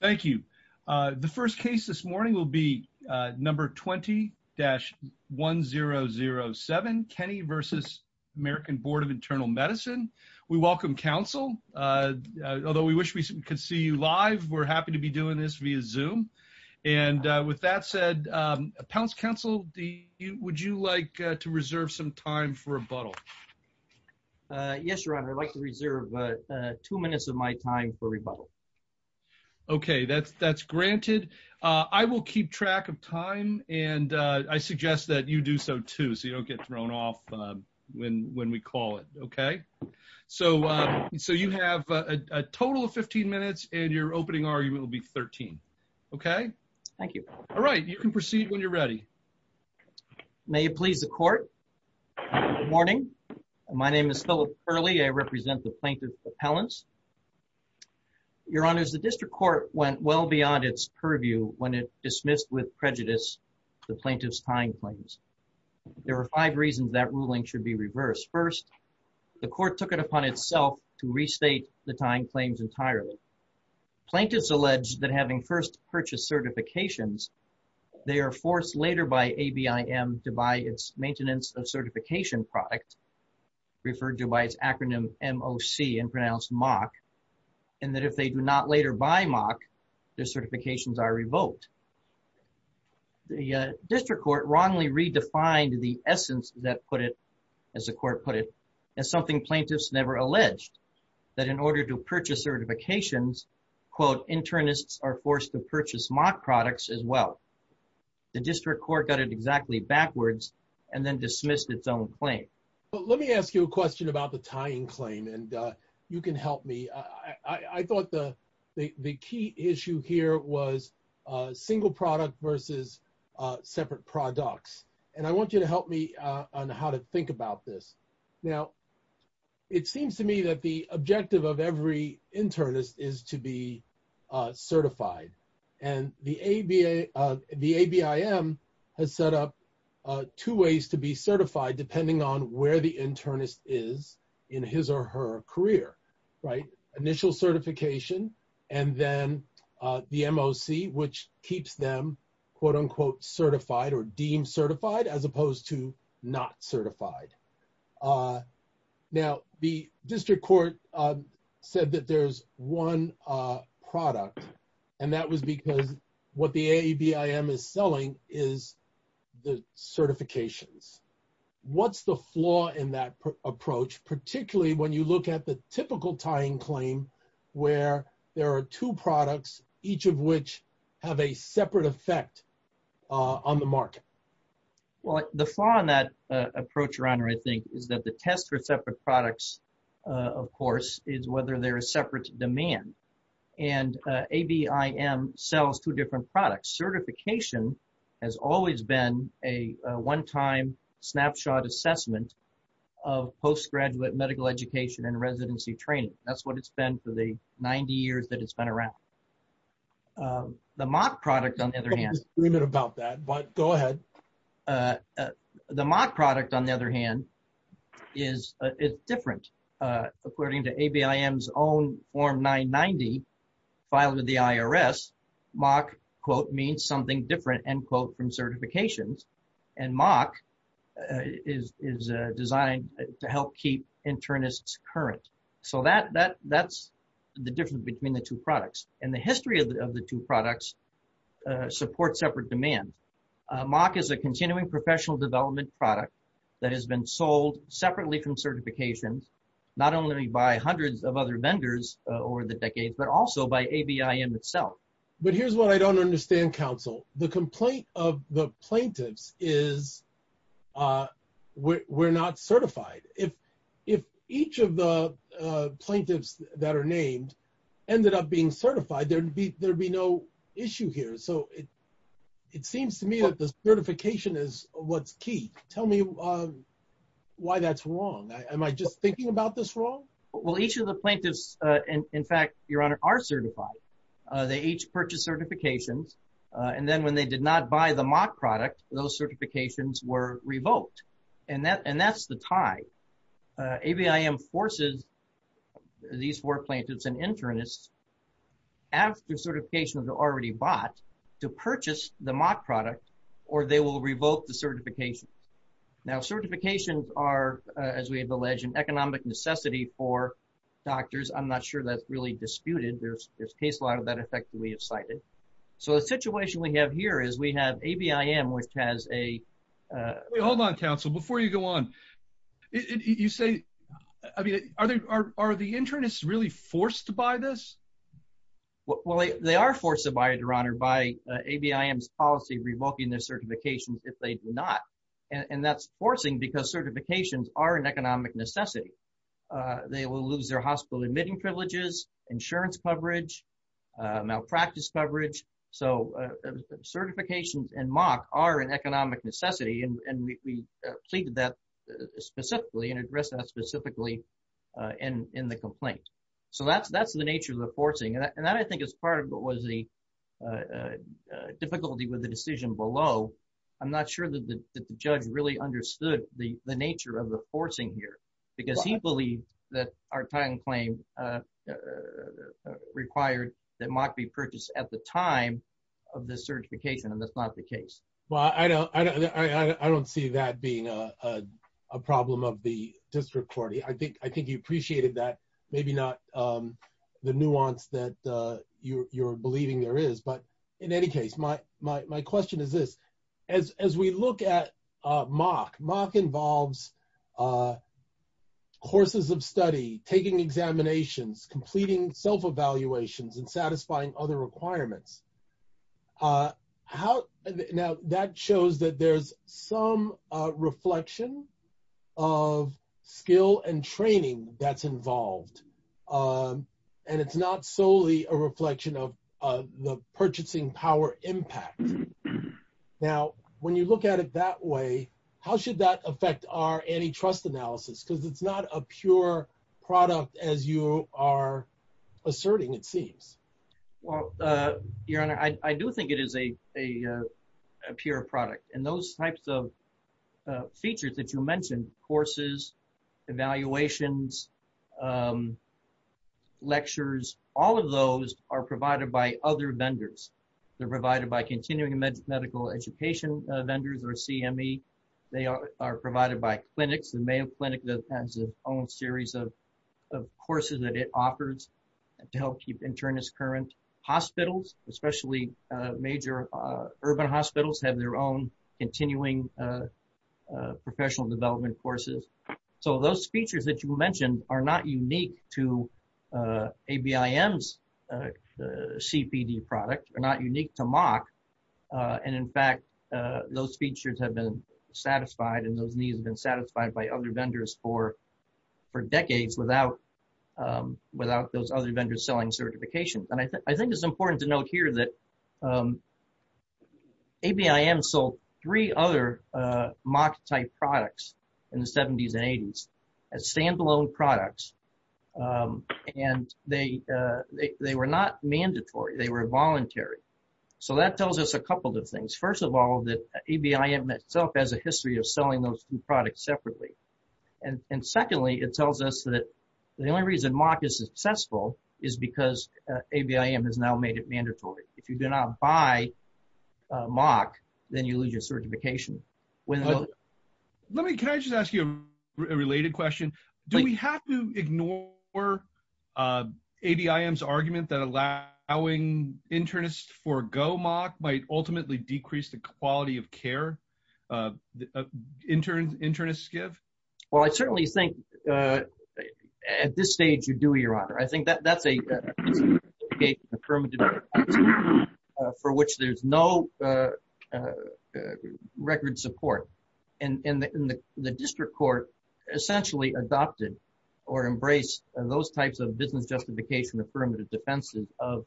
Thank you. The first case this morning will be number 20-1007, Kenney v. American Board of Internal Medicine. We welcome counsel, although we wish we could see you live, we're happy to be doing this via Zoom. And with that said, Pounce Counsel, would you like to reserve some time for rebuttal? Yes, Your Honor, I'd like to reserve two minutes of my time for rebuttal. Okay, that's granted. I will keep track of time, and I suggest that you do so, too, so you don't get thrown off when we call it, okay? So you have a total of 15 minutes, and your opening argument will be 13, okay? Thank you. May it please the Court? Good morning. My name is Philip Curley. I represent the Plaintiff's Appellants. Your Honors, the District Court went well beyond its purview when it dismissed with prejudice the Plaintiff's tying claims. There are five reasons that ruling should be reversed. First, the Court took it upon itself to restate the tying claims entirely. Plaintiffs allege that having first purchased certifications, they are forced later by ABIM to buy its maintenance of certification product, referred to by its acronym MOC and pronounced MOC, and that if they do not later buy MOC, their certifications are revoked. The District Court wrongly redefined the essence that put it, as the Court put it, as something plaintiffs never alleged, that in order to purchase certifications, quote, internists are forced to purchase MOC products as well. The District Court got it exactly backwards and then dismissed its own claim. Let me ask you a question about the tying claim, and you can help me. I thought the key issue here was single product versus separate products, and I want you to help me on how to think about this. Now, it seems to me that the objective of every internist is to be certified, and the ABIM has set up two ways to be certified depending on where the internist is in his or her career, right? Then the MOC, which keeps them, quote, unquote, certified or deemed certified as opposed to not certified. Now, the District Court said that there's one product, and that was because what the ABIM is selling is the certifications. What's the flaw in that approach, particularly when you look at the typical tying claim where there are two products, each of which have a separate effect on the market? Well, the flaw in that approach, Your Honor, I think, is that the test for separate products, of course, is whether there is separate demand, and ABIM sells two different products. Certification has always been a one-time snapshot assessment of postgraduate medical education and residency training. That's what it's been for the 90 years that it's been around. The MOC product, on the other hand — Let's leave it about that, but go ahead. The MOC product, on the other hand, is different. According to ABIM's own Form 990 filed with the IRS, MOC, quote, means something different, end quote, from certifications, and MOC is designed to help keep internists current. So that's the difference between the two products, and the history of the two products support separate demand. MOC is a continuing professional development product that has been sold separately from certifications, not only by hundreds of other vendors over the decades, but also by ABIM itself. But here's what I don't understand, Counsel. The complaint of the plaintiffs is we're not certified. If each of the plaintiffs that are named ended up being certified, there would be no issue here. So it seems to me that the certification is what's key. Tell me why that's wrong. Am I just thinking about this wrong? Well, each of the plaintiffs, in fact, Your Honor, are certified. They each purchase certifications, and then when they did not buy the MOC product, those certifications were revoked. And that's the tie. ABIM forces these four plaintiffs and internists, after certification was already bought, to purchase the MOC product, or they will revoke the certification. Now, certifications are, as we have alleged, an economic necessity for doctors. I'm not sure that's really disputed. There's case law to that effect that we have cited. So the situation we have here is we have ABIM, which has a – Wait, hold on, Counsel, before you go on. You say – I mean, are the internists really forced to buy this? Well, they are forced to buy it, Your Honor, by ABIM's policy revoking their certifications if they do not. And that's forcing because certifications are an economic necessity. They will lose their hospital admitting privileges, insurance coverage, malpractice coverage. So certifications and MOC are an economic necessity, and we pleaded that specifically and addressed that specifically in the complaint. So that's the nature of the forcing. And that, I think, is part of what was the difficulty with the decision below. I'm not sure that the judge really understood the nature of the forcing here because he believed that our time claim required that MOC be purchased at the time of the certification, and that's not the case. Well, I don't see that being a problem of the district court. I think you appreciated that, maybe not the nuance that you're believing there is. But in any case, my question is this. As we look at MOC, MOC involves courses of study, taking examinations, completing self-evaluations, and satisfying other requirements. Now, that shows that there's some reflection of skill and training that's involved, and it's not solely a reflection of the purchasing power impact. Now, when you look at it that way, how should that affect our antitrust analysis? Because it's not a pure product as you are asserting, it seems. Well, Your Honor, I do think it is a pure product. And those types of features that you mentioned, courses, evaluations, lectures, all of those are provided by other vendors. They're provided by Continuing Medical Education vendors, or CME. They are provided by clinics. The Mayo Clinic has its own series of courses that it offers to help keep internists current. Hospitals, especially major urban hospitals, have their own continuing professional development courses. So those features that you mentioned are not unique to ABIM's CPD product, are not unique to MOC. And, in fact, those features have been satisfied, and those needs have been satisfied by other vendors for decades without those other vendors selling certifications. And I think it's important to note here that ABIM sold three other MOC-type products in the 70s and 80s as stand-alone products, and they were not mandatory. They were voluntary. So that tells us a couple of things. First of all, ABIM itself has a history of selling those two products separately. And, secondly, it tells us that the only reason MOC is successful is because ABIM has now made it mandatory. If you do not buy MOC, then you lose your certification. Can I just ask you a related question? Do we have to ignore ABIM's argument that allowing internists forego MOC might ultimately decrease the quality of care internists give? Well, I certainly think at this stage you do, Your Honor. I think that's a business justification affirmative defense for which there's no record support. And the district court essentially adopted or embraced those types of business justification affirmative defenses of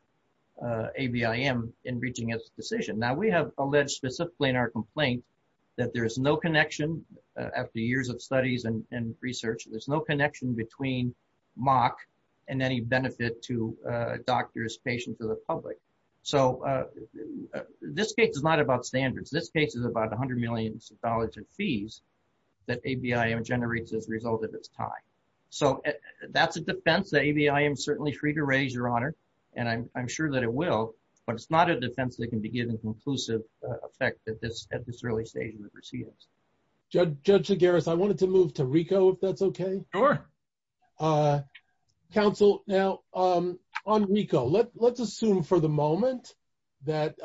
ABIM in reaching its decision. Now, we have alleged specifically in our complaint that there is no connection, after years of studies and research, there's no connection between MOC and any benefit to doctors, patients, or the public. So this case is not about standards. This case is about $100 million in fees that ABIM generates as a result of its tie. So that's a defense that ABIM is certainly free to raise, Your Honor, and I'm sure that it will. But it's not a defense that can be given conclusive effect at this early stage of the proceedings. Judge Chigaris, I wanted to move to RICO, if that's okay. Sure. Counsel, now on RICO, let's assume for the moment that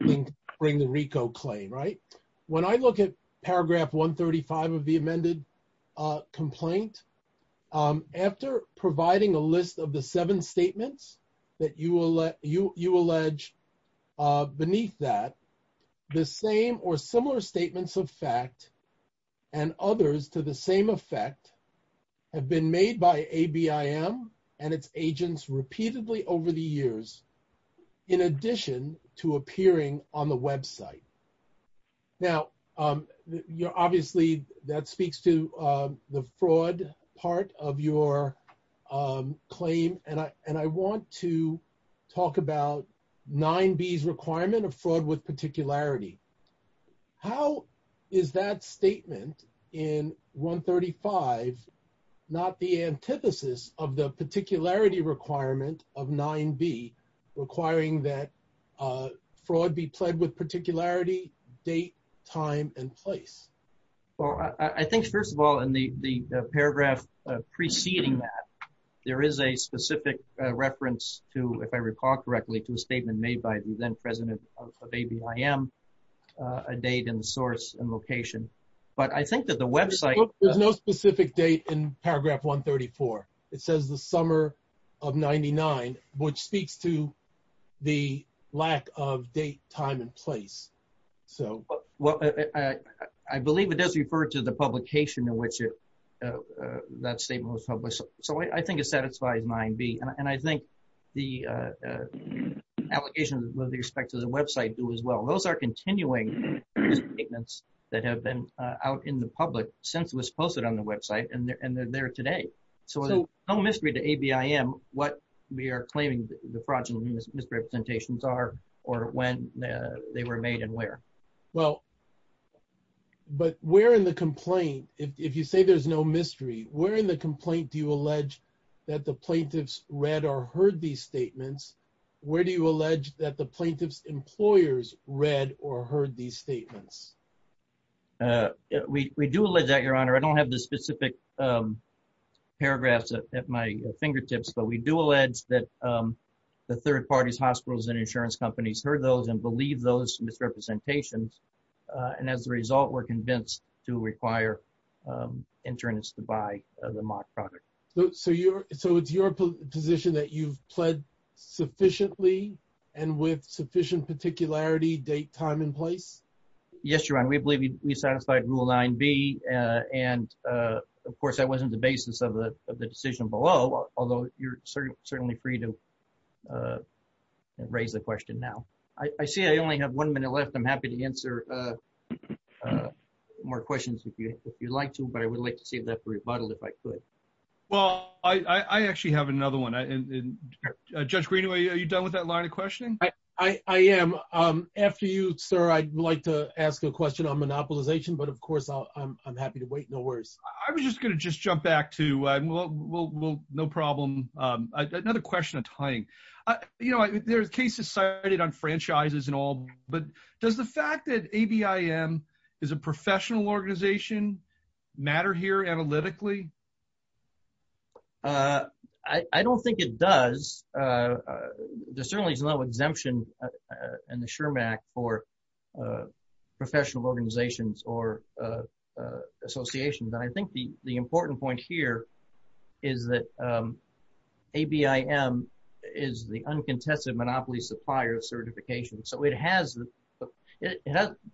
bring the RICO claim, right? When I look at paragraph 135 of the amended complaint, after providing a list of the seven statements that you allege beneath that, the same or similar statements of fact and others to the same effect have been made by ABIM and its agents repeatedly over the years, in addition to appearing on the website. Now, obviously that speaks to the fraud part of your claim, and I want to talk about 9B's requirement of fraud with particularity. How is that statement in 135 not the antithesis of the particularity requirement of 9B requiring that fraud be pled with particularity, date, time, and place? Well, I think, first of all, in the paragraph preceding that, there is a specific reference to, if I recall correctly, to a statement made by the then president of ABIM, a date and source and location. But I think that the website — There's no specific date in paragraph 134. It says the summer of 99, which speaks to the lack of date, time, and place. I believe it does refer to the publication in which that statement was published. So I think it satisfies 9B, and I think the allegations with respect to the website do as well. Those are continuing statements that have been out in the public since it was posted on the website, and they're there today. So there's no mystery to ABIM what we are claiming the fraudulent misrepresentations are or when they were made and where. Well, but where in the complaint, if you say there's no mystery, where in the complaint do you allege that the plaintiffs read or heard these statements? Where do you allege that the plaintiffs' employers read or heard these statements? We do allege that, Your Honor. I don't have the specific paragraphs at my fingertips, but we do allege that the third parties, hospitals, and insurance companies heard those and believe those misrepresentations. And as a result, we're convinced to require insurance to buy the mock product. So it's your position that you've pled sufficiently and with sufficient particularity, date, time, and place? Yes, Your Honor. We believe we satisfied rule 9B. And, of course, that wasn't the basis of the decision below, although you're certainly free to raise the question now. I see I only have one minute left. I'm happy to answer more questions if you'd like to, but I would like to see that rebuttal if I could. Well, I actually have another one. Judge Greenaway, are you done with that line of questioning? I am. After you, sir, I'd like to ask a question on monopolization, but, of course, I'm happy to wait. No worries. I was just going to just jump back to no problem. Another question, a tying. You know, there's cases cited on franchises and all, but does the fact that ABIM is a professional organization matter here analytically? I don't think it does. There certainly is no exemption in the SHRM Act for professional organizations or associations, and I think the important point here is that ABIM is the uncontested monopoly supplier of certification. So it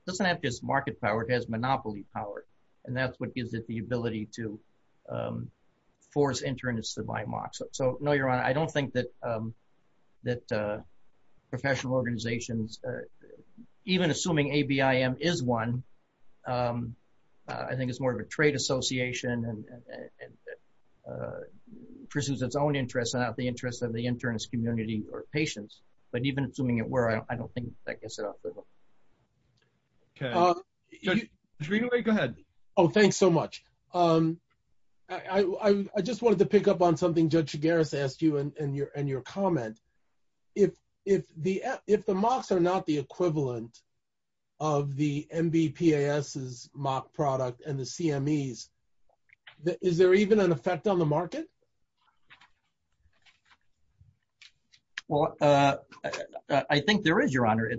doesn't have just market power, it has monopoly power, and that's what gives it the ability to force interns to buy MOCs. So, no, Your Honor, I don't think that professional organizations, even assuming ABIM is one, I think it's more of a trade association and pursues its own interests and not the interests of the internist community or patients. But even assuming it were, I don't think that gets it off the hook. Okay. Judge Greenaway, go ahead. Oh, thanks so much. I just wanted to pick up on something Judge Chigares asked you in your comment. If the MOCs are not the equivalent of the MBPAS's MOC product and the CMEs, is there even an effect on the market? Well, I think there is, Your Honor.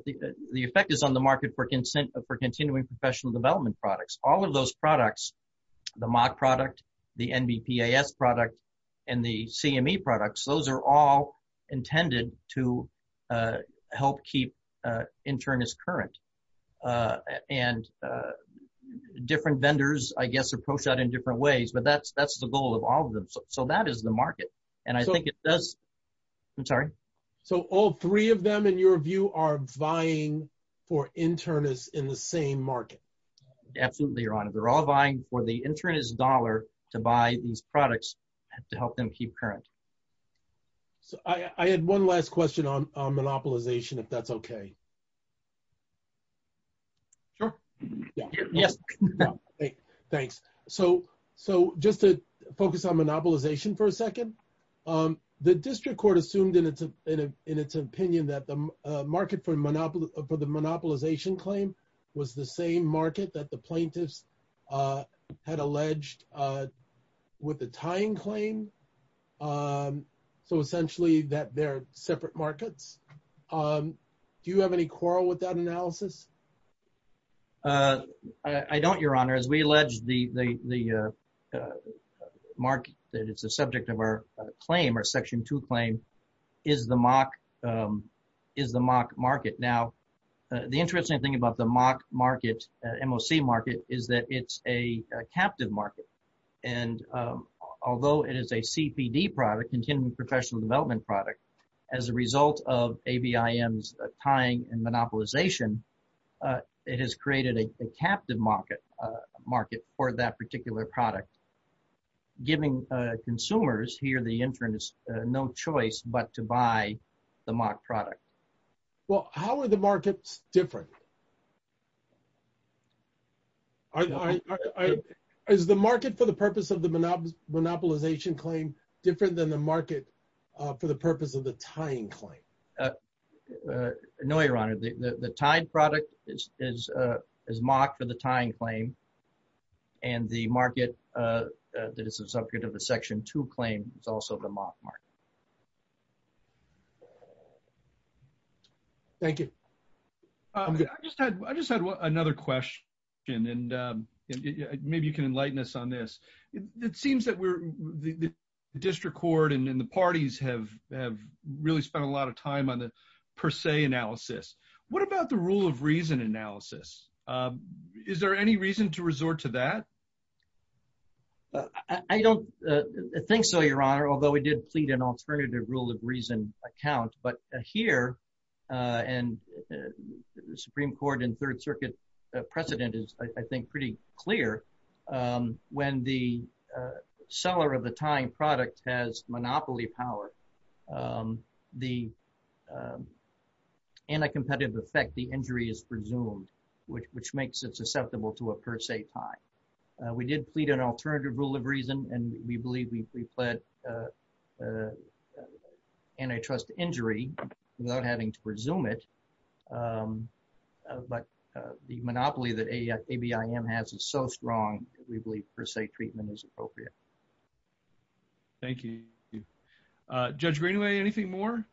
The effect is on the market for continuing professional development products. All of those products, the MOC product, the MBPAS product, and the CME products, those are all intended to help keep internists current. And different vendors, I guess, approach that in different ways. But that's the goal of all of them. So that is the market. And I think it does. I'm sorry? So all three of them, in your view, are vying for internists in the same market? Absolutely, Your Honor. They're all vying for the internist dollar to buy these products to help them keep current. So I had one last question on monopolization, if that's okay. Sure. Yes. Thanks. So just to focus on monopolization for a second, the district court assumed in its opinion that the market for the monopolization claim was the same market that the plaintiffs had alleged with the tying claim. So essentially that they're separate markets. Do you have any quarrel with that analysis? I don't, Your Honor. As we alleged, the market that is the subject of our claim, our Section 2 claim, is the MOC market. Now, the interesting thing about the MOC market is that it's a captive market. And although it is a CPD product, continuing professional development product, as a result of ABIM's tying and monopolization, it has created a captive market for that particular product, giving consumers here, the internists, no choice but to buy the MOC product. Well, how are the markets different? Is the market for the purpose of the monopolization claim different than the market for the purpose of the tying claim? No, Your Honor. The tied product is MOC for the tying claim. And the market that is the subject of the Section 2 claim is also the MOC market. Thank you. I just had another question. And maybe you can enlighten us on this. It seems that the district court and the parties have really spent a lot of time on the per se analysis. What about the rule of reason analysis? Is there any reason to resort to that? I don't think so, Your Honor. Although we did plead an alternative rule of reason account, but here and the Supreme Court and third circuit precedent is, I think, pretty clear. When the seller of the tying product has monopoly power, the anti-competitive effect, the injury is presumed, which makes it susceptible to a per se tie. We did plead an alternative rule of reason, and we believe we plead antitrust injury without having to presume it. But the monopoly that ABIM has is so strong, we believe per se treatment is appropriate. Thank you. Judge Greenway, anything more?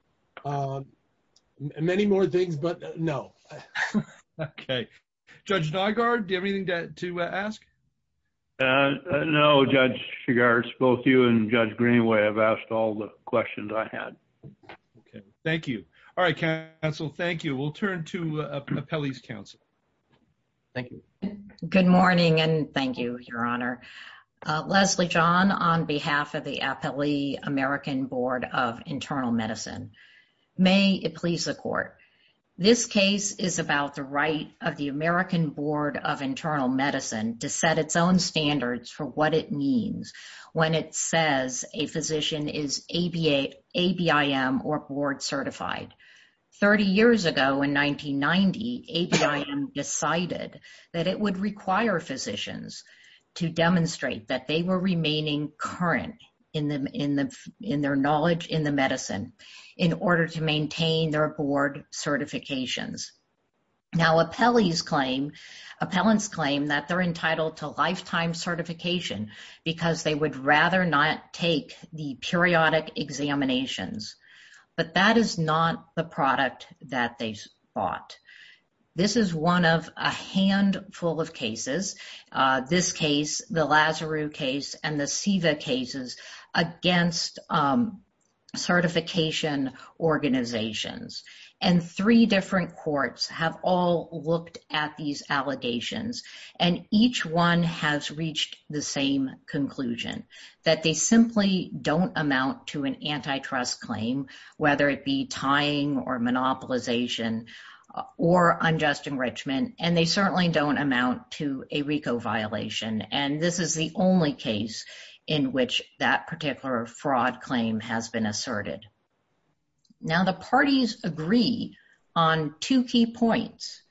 Many more things, but no. Okay. Judge Nygard, do you have anything to ask? No, Judge Nygard. Both you and Judge Greenway have asked all the questions I had. Okay. Thank you. All right, counsel, thank you. We'll turn to appellee's counsel. Thank you. Good morning, and thank you, Your Honor. Leslie John, on behalf of the Appellee American Board of Internal Medicine. May it please the court. This case is about the right of the American Board of Internal Medicine to set its own standards for what it means when it says a physician is ABIM or board certified. Thirty years ago, in 1990, ABIM decided that it would require physicians to demonstrate in order to maintain their board certifications. Now, appellants claim that they're entitled to lifetime certification because they would rather not take the periodic examinations, but that is not the product that they've bought. This is one of a handful of cases, this case, the Lazarus case, and the SEVA cases against certification organizations. And three different courts have all looked at these allegations, and each one has reached the same conclusion, that they simply don't amount to an antitrust claim, whether it be tying or monopolization or unjust enrichment, and they certainly don't amount to a RICO violation. And this is the only case in which that particular fraud claim has been asserted. Now, the parties agree on two key points.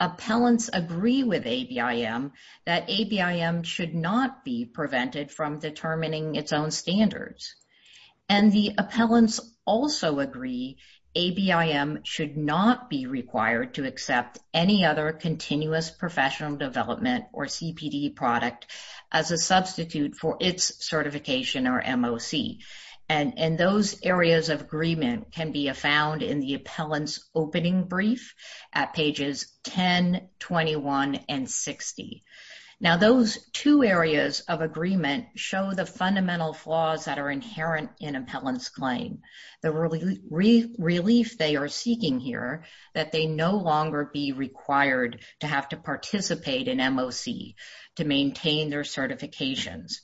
Appellants agree with ABIM that ABIM should not be prevented from determining its own standards. And the appellants also agree ABIM should not be required to accept any other continuous professional development or CPD product as a substitute for its certification or MOC. And those areas of agreement can be found in the appellant's opening brief at pages 10, 21, and 60. Now, those two areas of agreement show the fundamental flaws that are inherent in appellant's claim. The relief they are seeking here, that they no longer be required to have to participate in MOC to maintain their certifications.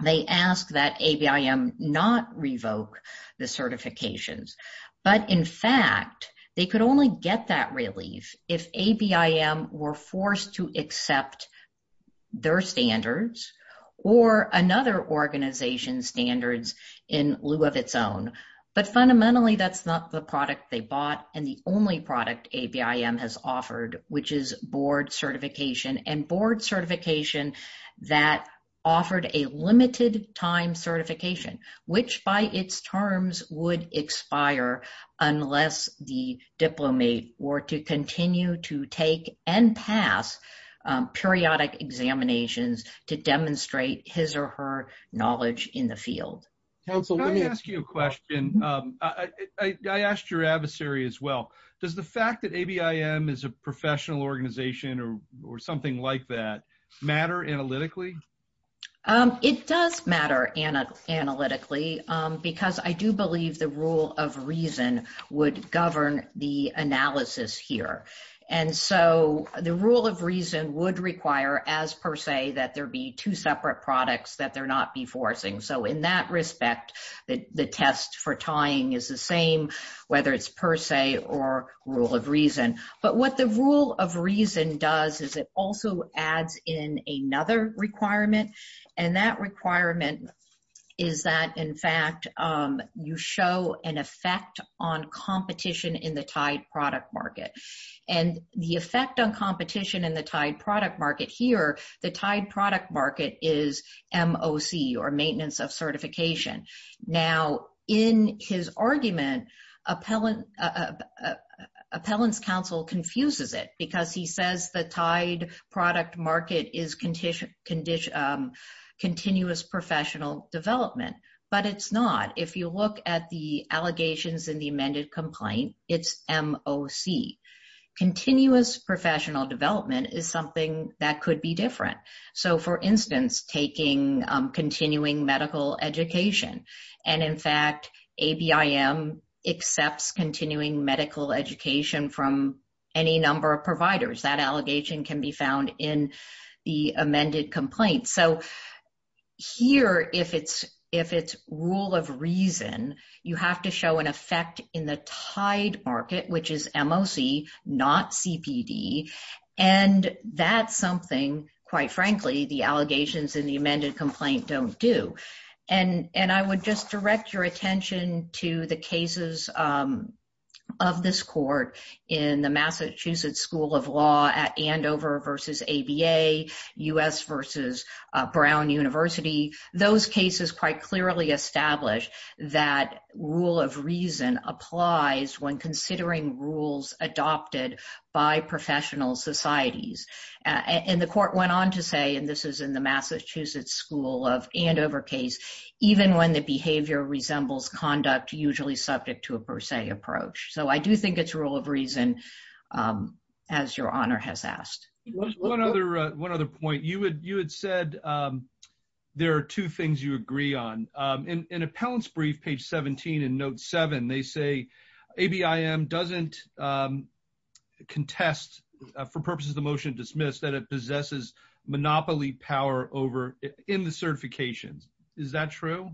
They ask that ABIM not revoke the certifications. But in fact, they could only get that relief if ABIM were forced to accept their standards or another organization's standards in lieu of its own. But fundamentally, that's not the product they bought and the only product ABIM has offered, which is board certification. And board certification that offered a limited time certification, which by its terms would expire unless the diplomat were to continue to take and pass periodic examinations to demonstrate his or her knowledge in the field. Can I ask you a question? I asked your adversary as well. Does the fact that ABIM is a professional organization or something like that matter analytically? It does matter analytically because I do believe the rule of reason would govern the analysis here. And so the rule of reason would require, as per se, that there be two separate products that there not be forcing. So in that respect, the test for tying is the same, whether it's per se or rule of reason. But what the rule of reason does is it also adds in another requirement. And that requirement is that, in fact, you show an effect on competition in the tied product market. And the effect on competition in the tied product market here, the tied product market is MOC or maintenance of certification. Now, in his argument, appellant's counsel confuses it because he says the tied product market is continuous professional development. But it's not. If you look at the allegations in the amended complaint, it's MOC. Continuous professional development is something that could be different. So, for instance, taking continuing medical education. And, in fact, ABIM accepts continuing medical education from any number of providers. That allegation can be found in the amended complaint. So here, if it's rule of reason, you have to show an effect in the tied market, which is MOC, not CPD. And that's something, quite frankly, the allegations in the amended complaint don't do. And I would just direct your attention to the cases of this court in the Massachusetts School of Law at Andover versus ABA, U.S. versus Brown University. Those cases quite clearly establish that rule of reason applies when considering rules adopted by professional societies. And the court went on to say, and this is in the Massachusetts School of Andover case, even when the behavior resembles conduct usually subject to a per se approach. So I do think it's rule of reason, as your honor has asked. One other point. You had said there are two things you agree on. In appellant's brief, page 17 in note seven, they say, ABIM doesn't contest for purposes of the motion to dismiss that it possesses monopoly power in the certifications. Is that true?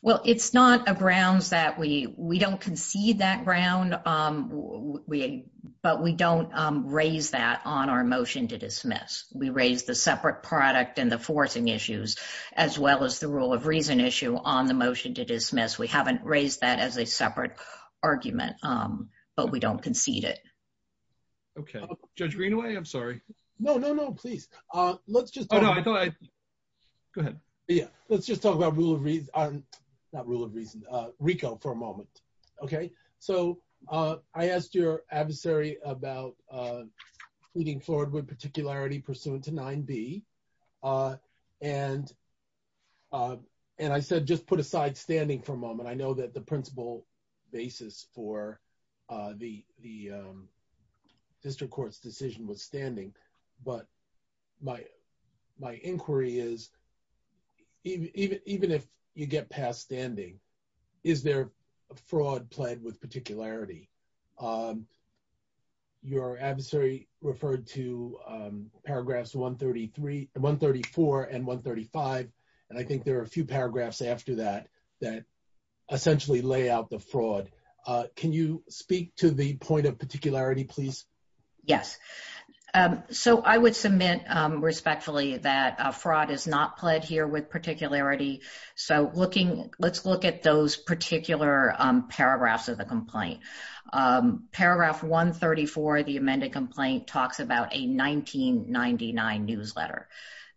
Well, it's not a grounds that we, we don't concede that ground, but we don't raise that on our motion to dismiss. We raised the separate product and the forcing issues as well as the rule of reason issue on the motion to dismiss. We haven't raised that as a separate argument, but we don't concede it. Okay. Judge Greenaway, I'm sorry. No, no, no, please. Let's just go ahead. Yeah. Let's just talk about rule of reason. Not rule of reason RICO for a moment. Okay. So I asked your adversary about leading forward with particularity pursuant to nine B. And. And I said, just put aside standing for a moment. I know that the principal basis for the, the. District court's decision was standing, but. My, my inquiry is. Even if you get past standing. Is there a fraud played with particularity? Your adversary referred to paragraphs, one 33, one 34 and one 35. And I think there are a few paragraphs after that, that essentially lay out the fraud. Can you speak to the point of particularity, please? Yes. So I would submit respectfully that a fraud is not pled here with particularity. So looking, let's look at those particular. Paragraphs of the complaint. Paragraph one 34, the amended complaint talks about a 1999 newsletter.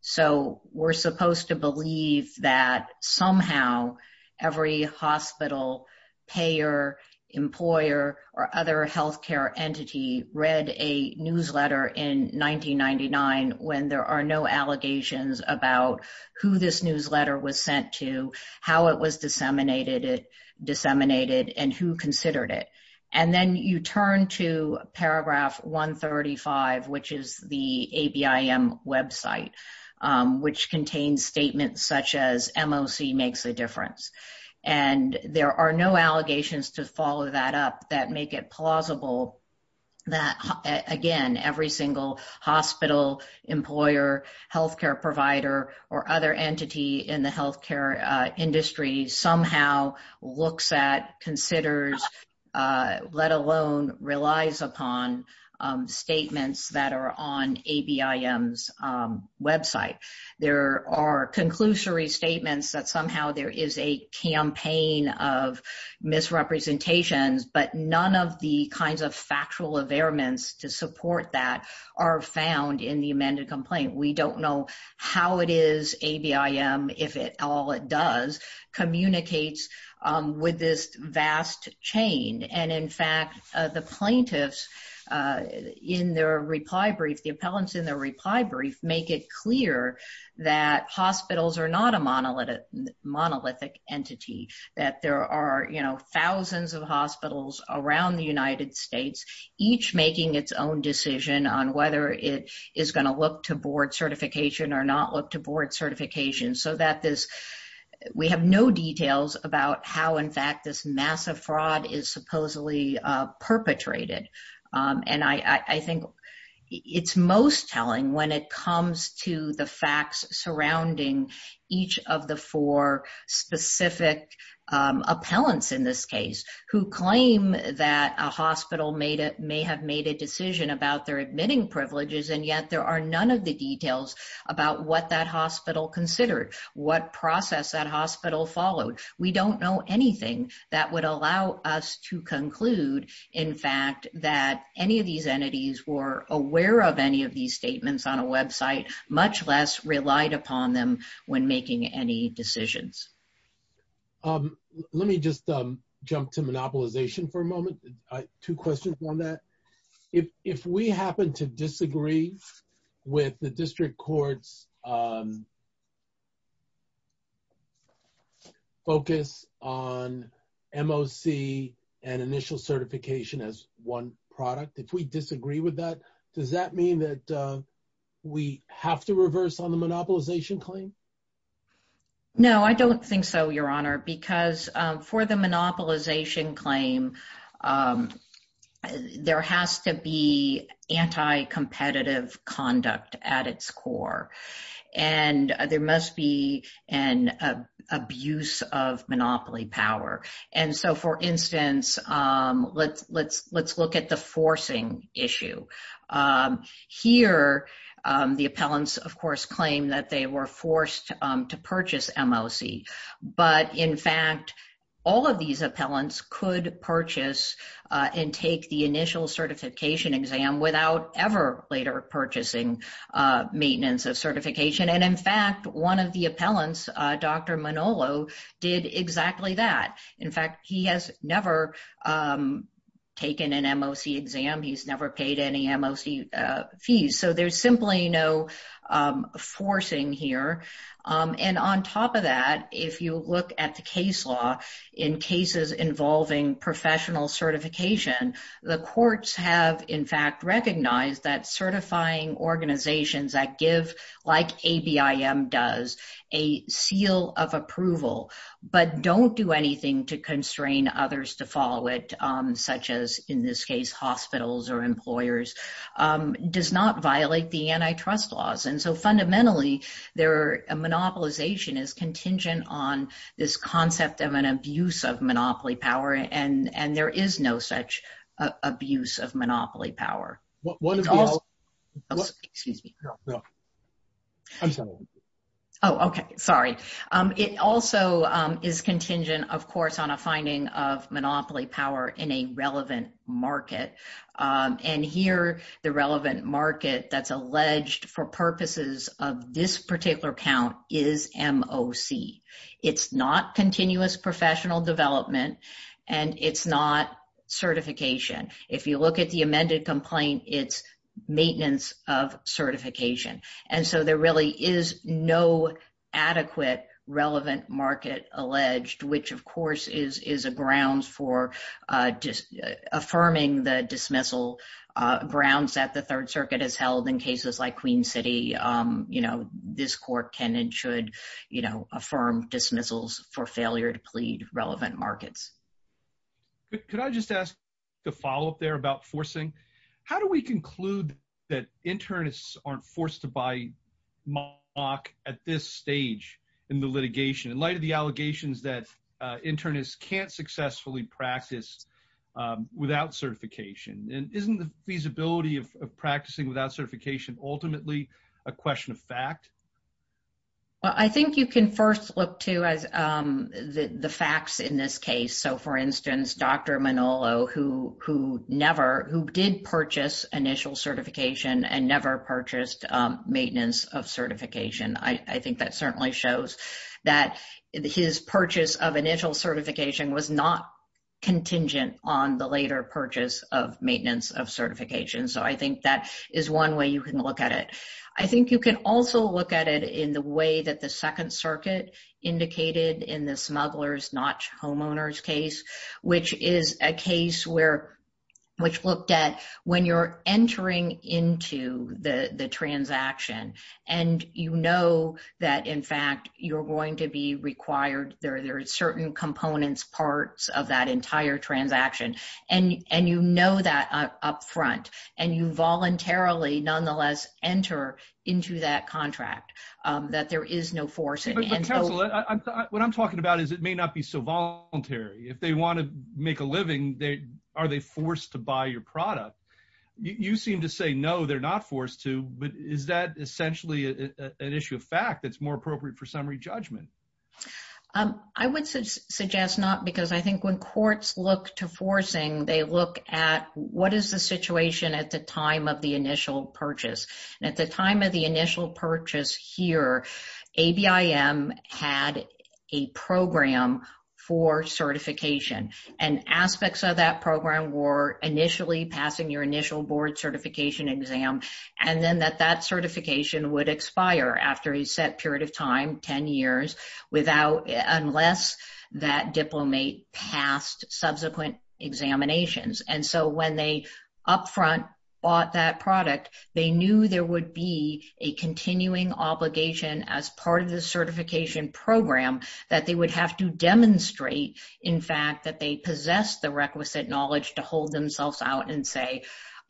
So we're supposed to believe that somehow. Every hospital. Every hospital. Pay your employer or other healthcare entity read a newsletter in 1999 when there are no allegations about who this newsletter was sent to, how it was disseminated. Disseminated and who considered it. And then you turn to paragraph one 35, which is the ABM website. Which contains statements such as MOC makes a difference. And there are no allegations to follow that up that make it plausible. So I would submit respectfully that. That again, every single hospital employer, healthcare provider or other entity in the healthcare. Industries somehow looks at considers. Let alone relies upon. And I would also submit respectfully that there are no. Conclusive statements that are on a BIM. Website. There are conclusory statements that somehow there is a campaign of misrepresentations, but none of the kinds of factual of airments to support that. Are found in the amended complaint. We don't know. How it is a BIM. If it all it does. It's not a BIM. It's not a monolithic entity that communicates. With this vast chain. And in fact, the plaintiffs. In their reply brief, the appellants in the reply brief, make it clear. That hospitals are not a monolith. Monolithic entity that there are, you know, There are no details about how in fact, this massive fraud is supposedly perpetrated. And I, I think. It's most telling when it comes to the facts surrounding. Each of the four specific. I think it's most telling when it comes to the facts surrounding. Each of the four specific. Appellants in this case who claim that a hospital made it may have made a decision about their admitting privileges. And yet there are none of the details. About what that hospital considered. What process that hospital followed. We don't know anything that would allow us to conclude. So, made a decision about their admitting privileges. In fact, that any of these entities were aware of any of these statements on a website, much less relied upon them. When making any decisions. Let me just jump to monopolization for a moment. Two questions on that. If, if we happen to disagree. With the district courts. Focus on MOC. And initial certification as one product. If we disagree with that, does that mean that. We have to reverse on the monopolization claim. No, I don't think so. Your honor, because for the monopolization claim. There has to be anti competitive conduct at its core. And there must be an abuse of monopoly power. And so for instance, let's, let's, let's look at the forcing issue. Here. The appellants of course, claim that they were forced to purchase MOC. But in fact, all of these appellants could purchase. And take the initial certification exam without ever later purchasing. Maintenance of certification. And in fact, one of the appellants, Dr. Manolo did exactly that. In fact, he has never. Taken an MOC exam. He's never paid any MOC. Fees. So there's simply no forcing here. And on top of that, if you look at the case law in cases involving professional certification, the courts have in fact recognized that certifying organizations that give like a BIM does a seal of approval, but don't do anything to constrain others to follow it, such as in this case, hospitals or employers. Does not violate the antitrust laws. And so fundamentally they're a monopolization is contingent on this concept of an abuse of monopoly power. And, and there is no such abuse of monopoly power. Excuse me. Oh, okay. Sorry. It also is contingent of course, on a finding of monopoly power in a relevant market. And here the relevant market that's alleged for purposes of this particular account is MOC. It's not continuous professional development and it's not certification. If you look at the amended complaint, it's maintenance of certification. And so there really is no adequate relevant market alleged, which of course is, is a grounds for just affirming the, the dismissal grounds that the third circuit has held in cases like queen city. You know, this court can and should, you know, affirm dismissals for failure to plead relevant markets. Could I just ask the follow-up there about forcing, how do we conclude that internists aren't forced to buy mock at this stage in the litigation in light of the allegations that internists can't successfully practice without certification and isn't the feasibility of practicing without certification, ultimately a question of fact. Well, I think you can first look to as the facts in this case. So for instance, Dr. Manolo, who, who never, who did purchase initial certification and never purchased maintenance of certification. I think that certainly shows that his purchase of initial certification was not contingent on the later purchase of maintenance of certification. So I think that is one way you can look at it. I think you can also look at it in the way that the second circuit indicated in the smugglers, not homeowners case, which is a case where, which looked at when you're entering into the, the transaction and you know that in fact, you're going to be required there. There are certain components parts of that entire transaction. And, and you know that up front and you voluntarily nonetheless enter into that contract that there is no force. What I'm talking about is it may not be so voluntary. If they want to make a living, they, are they forced to buy your product? You seem to say, no, they're not forced to, but is that essentially an issue of fact that's more appropriate for some summary judgment? I would suggest not because I think when courts look to forcing, they look at what is the situation at the time of the initial purchase. And at the time of the initial purchase here, ABIM had a program for certification and aspects of that program were initially passing your initial board certification exam. And then that that certification would expire after a set period of time, 10 years without, unless that diplomat passed subsequent examinations. And so when they upfront bought that product, they knew there would be a continuing obligation as part of the certification program that they would have to demonstrate. In fact, that they possess the requisite knowledge to hold themselves out and say,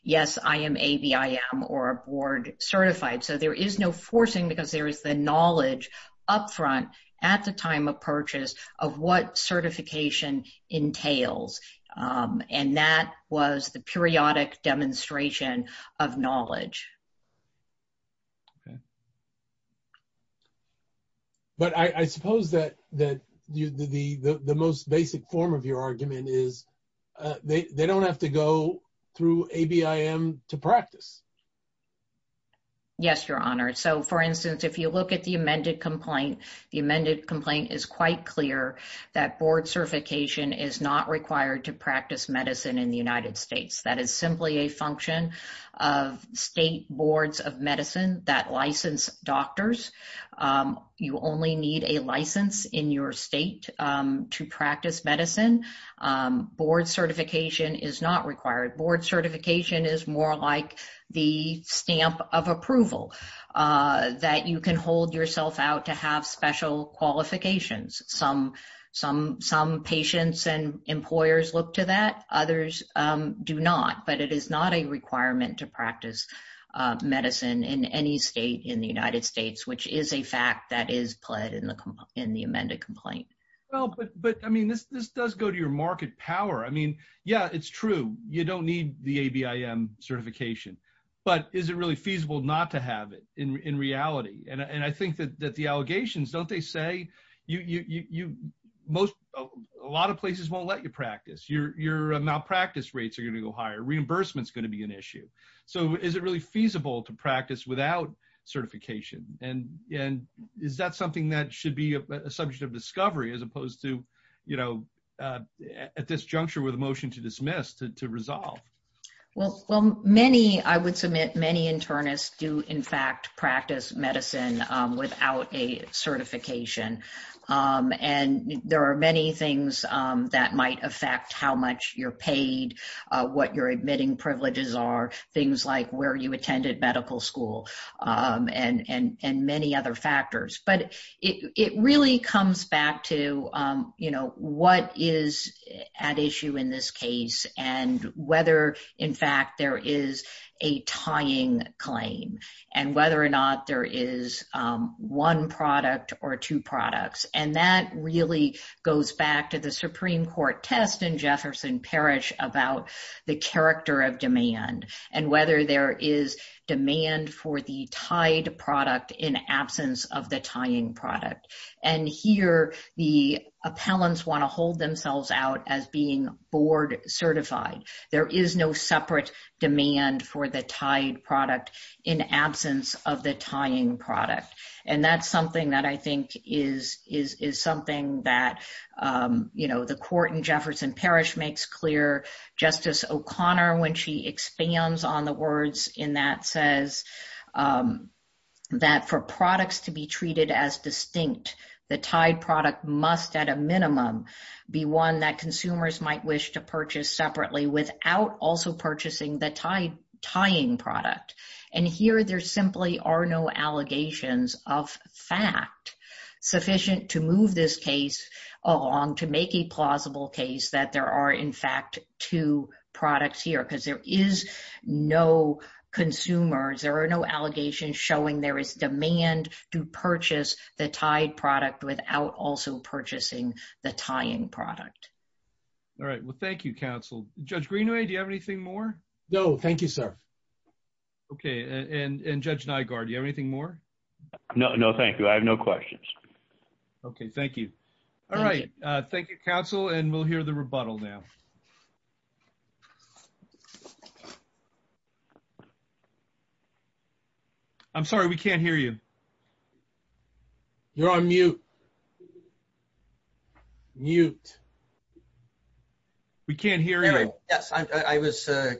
yes, I am ABIM or a board certified. So there is no forcing because there is the knowledge upfront at the time of purchase of what certification entails. And that was the periodic demonstration of knowledge. But I suppose that, that the, the, the most basic form of your argument is they, they don't have to go through ABIM to practice. Yes, your honor. So for instance, if you look at the amended complaint, the amended complaint is quite clear that board certification is not required to practice medicine in the United States. That is simply a function of state boards of medicine that license doctors. You only need a license in your state to practice medicine. Board certification is not required. Board certification is more like the stamp of approval that you can hold yourself out to have special qualifications. Some, some, some patients and employers look to that. Others do not, but it is not a requirement to practice medicine in any state in the United States, which is a fact that is pled in the, in the amended complaint. Well, but, but I mean, this, this does go to your market power. I mean, yeah, it's true. You don't need the ABIM certification, but is it really feasible not to have it in reality? And I think that the allegations, don't they say you, you, you, you most, a lot of places won't let you practice your, your malpractice rates are going to go higher. Reimbursements going to be an issue. So is it really feasible to practice without certification? And, and is that something that should be a subject of discovery as opposed to, you know, at this juncture with a motion to dismiss, to, to resolve? Well, well, many, I would submit many internists do in fact, practice medicine without a certification. And there are many things that might affect how much you're paid, what you're admitting privileges are things like where you attended medical school and, and, and many other factors, but it, it really comes back to you know, what is at issue in this case and whether in fact there is a tying claim and whether or not there is one product or two products. And that really goes back to the Supreme court test in Jefferson Parish about the character of demand and whether there is demand for the tied product in absence of the tying product. And here the appellants want to hold themselves out as being board certified. There is no separate demand for the tied product in absence of the tying product. And that's something that I think is, is, is something that you know, the court in Jefferson Parish makes clear. Justice O'Connor, when she expands on the words in that says that for products to be treated as distinct, the tied product must at a minimum be one that consumers might wish to purchase separately without also purchasing the tied tying product. And here there simply are no allegations of fact sufficient to move this case along to make a plausible case that there are in fact two products here because there is no consumers. There are no allegations showing there is demand to purchase the tied product without also purchasing the tying product. All right. Well, thank you counsel. Judge Greenway. Do you have anything more? No. Thank you, sir. Okay. And judge Nygard, do you have anything more? No, no, thank you. I have no questions. Okay. Thank you. All right. Thank you counsel and we'll hear the rebuttal now. I'm sorry. We can't hear you. You're on mute. Mute. We can't hear you. Yes. I was, uh,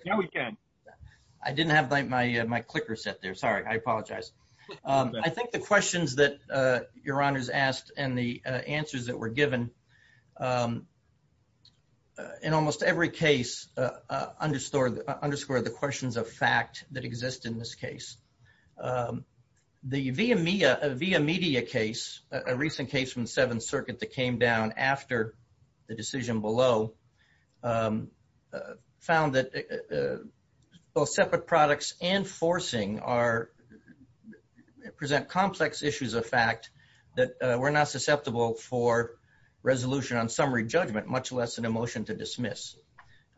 I didn't have my, my, uh, my clicker set there. Sorry. I apologize. Um, I think the questions that, uh, your honor's asked and the answers that were given, um, in almost every case, uh, uh, underscore underscore the questions of fact that exist in this case. Um, the via media via media case, a recent case from the seventh circuit that came down after the decision below, um, uh, found that, uh, both separate products and forcing are present complex issues of fact that, uh, we're not susceptible for resolution on summary judgment, much less than emotion to dismiss.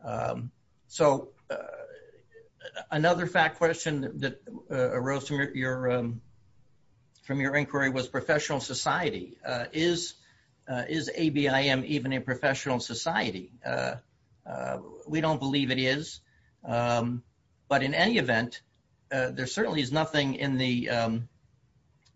Um, so, uh, another fact question that, uh, arose from your, your, um, from your inquiry was professional society, uh, is, uh, is ABIM even a professional society? Uh, uh, we don't believe it is. Um, but in any event, uh, there certainly is nothing in the, um,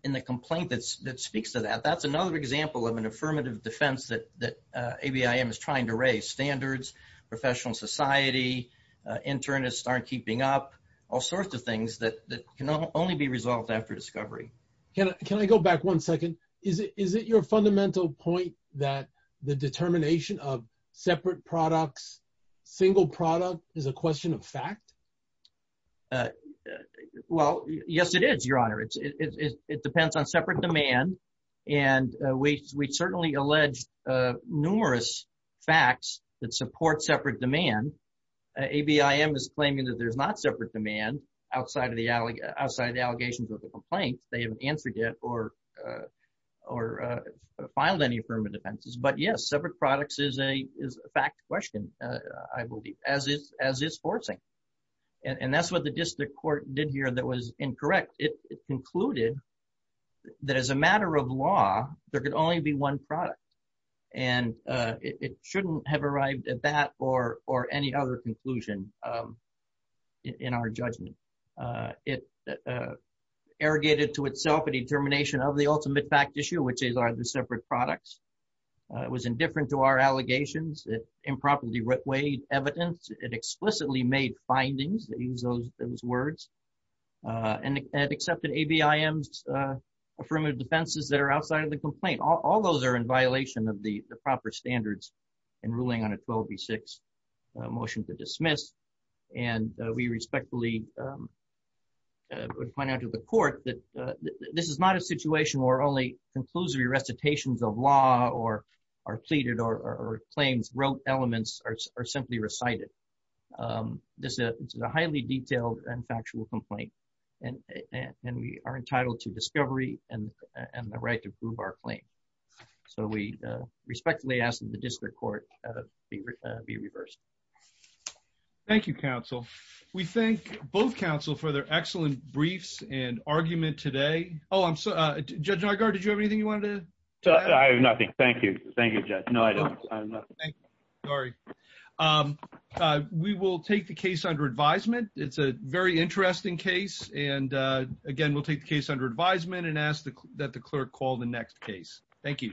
in the complaint that's, that speaks to that. That's another example of an affirmative defense that, that, uh, ABIM is trying to raise standards, professional society, uh, internists aren't keeping up all sorts of things that can only be resolved after discovery. Can I, can I go back one second? Is it, is it your fundamental point that the determination of separate products, single product is a question of fact? Uh, well, yes, it is your honor. It's, it, it, it, it depends on separate demand. And, uh, we, we certainly alleged, uh, numerous facts that support separate demand. Uh, ABIM is claiming that there's not separate demand outside of the alley outside of the allegations of the complaint. They haven't answered yet or, uh, or, uh, filed any affirmative defenses, but yes, separate products is a, is a fact question, uh, I believe as is, as is forcing. And that's what the district court did here. That was incorrect. It concluded that as a matter of law, there could only be one product and, uh, it shouldn't have arrived at that or, or any other conclusion, um, in our judgment. Uh, it, uh, irrigated to itself a determination of the ultimate fact issue, which is are the separate products. Uh, it was indifferent to our allegations that improperly weighed evidence. It explicitly made findings that use those, those words, uh, and, and accepted ABIMs, uh, affirmative defenses that are outside of the complaint. All those are in violation of the proper standards and ruling on a 12B6, a motion to dismiss. And, uh, we respectfully, um, uh, point out to the court that, uh, this is not a situation where only conclusive recitations of law or are pleaded or claims wrote elements are simply recited. Um, this is a highly detailed and factual complaint, and, and, and we are entitled to discovery and the right to prove our claim. So we, uh, respectfully ask that the district court, uh, be, uh, be reversed. Thank you, counsel. We thank both counsel for their excellent briefs and argument today. Oh, I'm so, uh, judge, did you have anything you wanted to tell? I have nothing. Thank you. Thank you, judge. No, I don't. Sorry. Um, uh, we will take the case under advisement. It's a very interesting case. And, uh, again, we'll take the case under advisement and ask that the clerk call the next case. Thank you.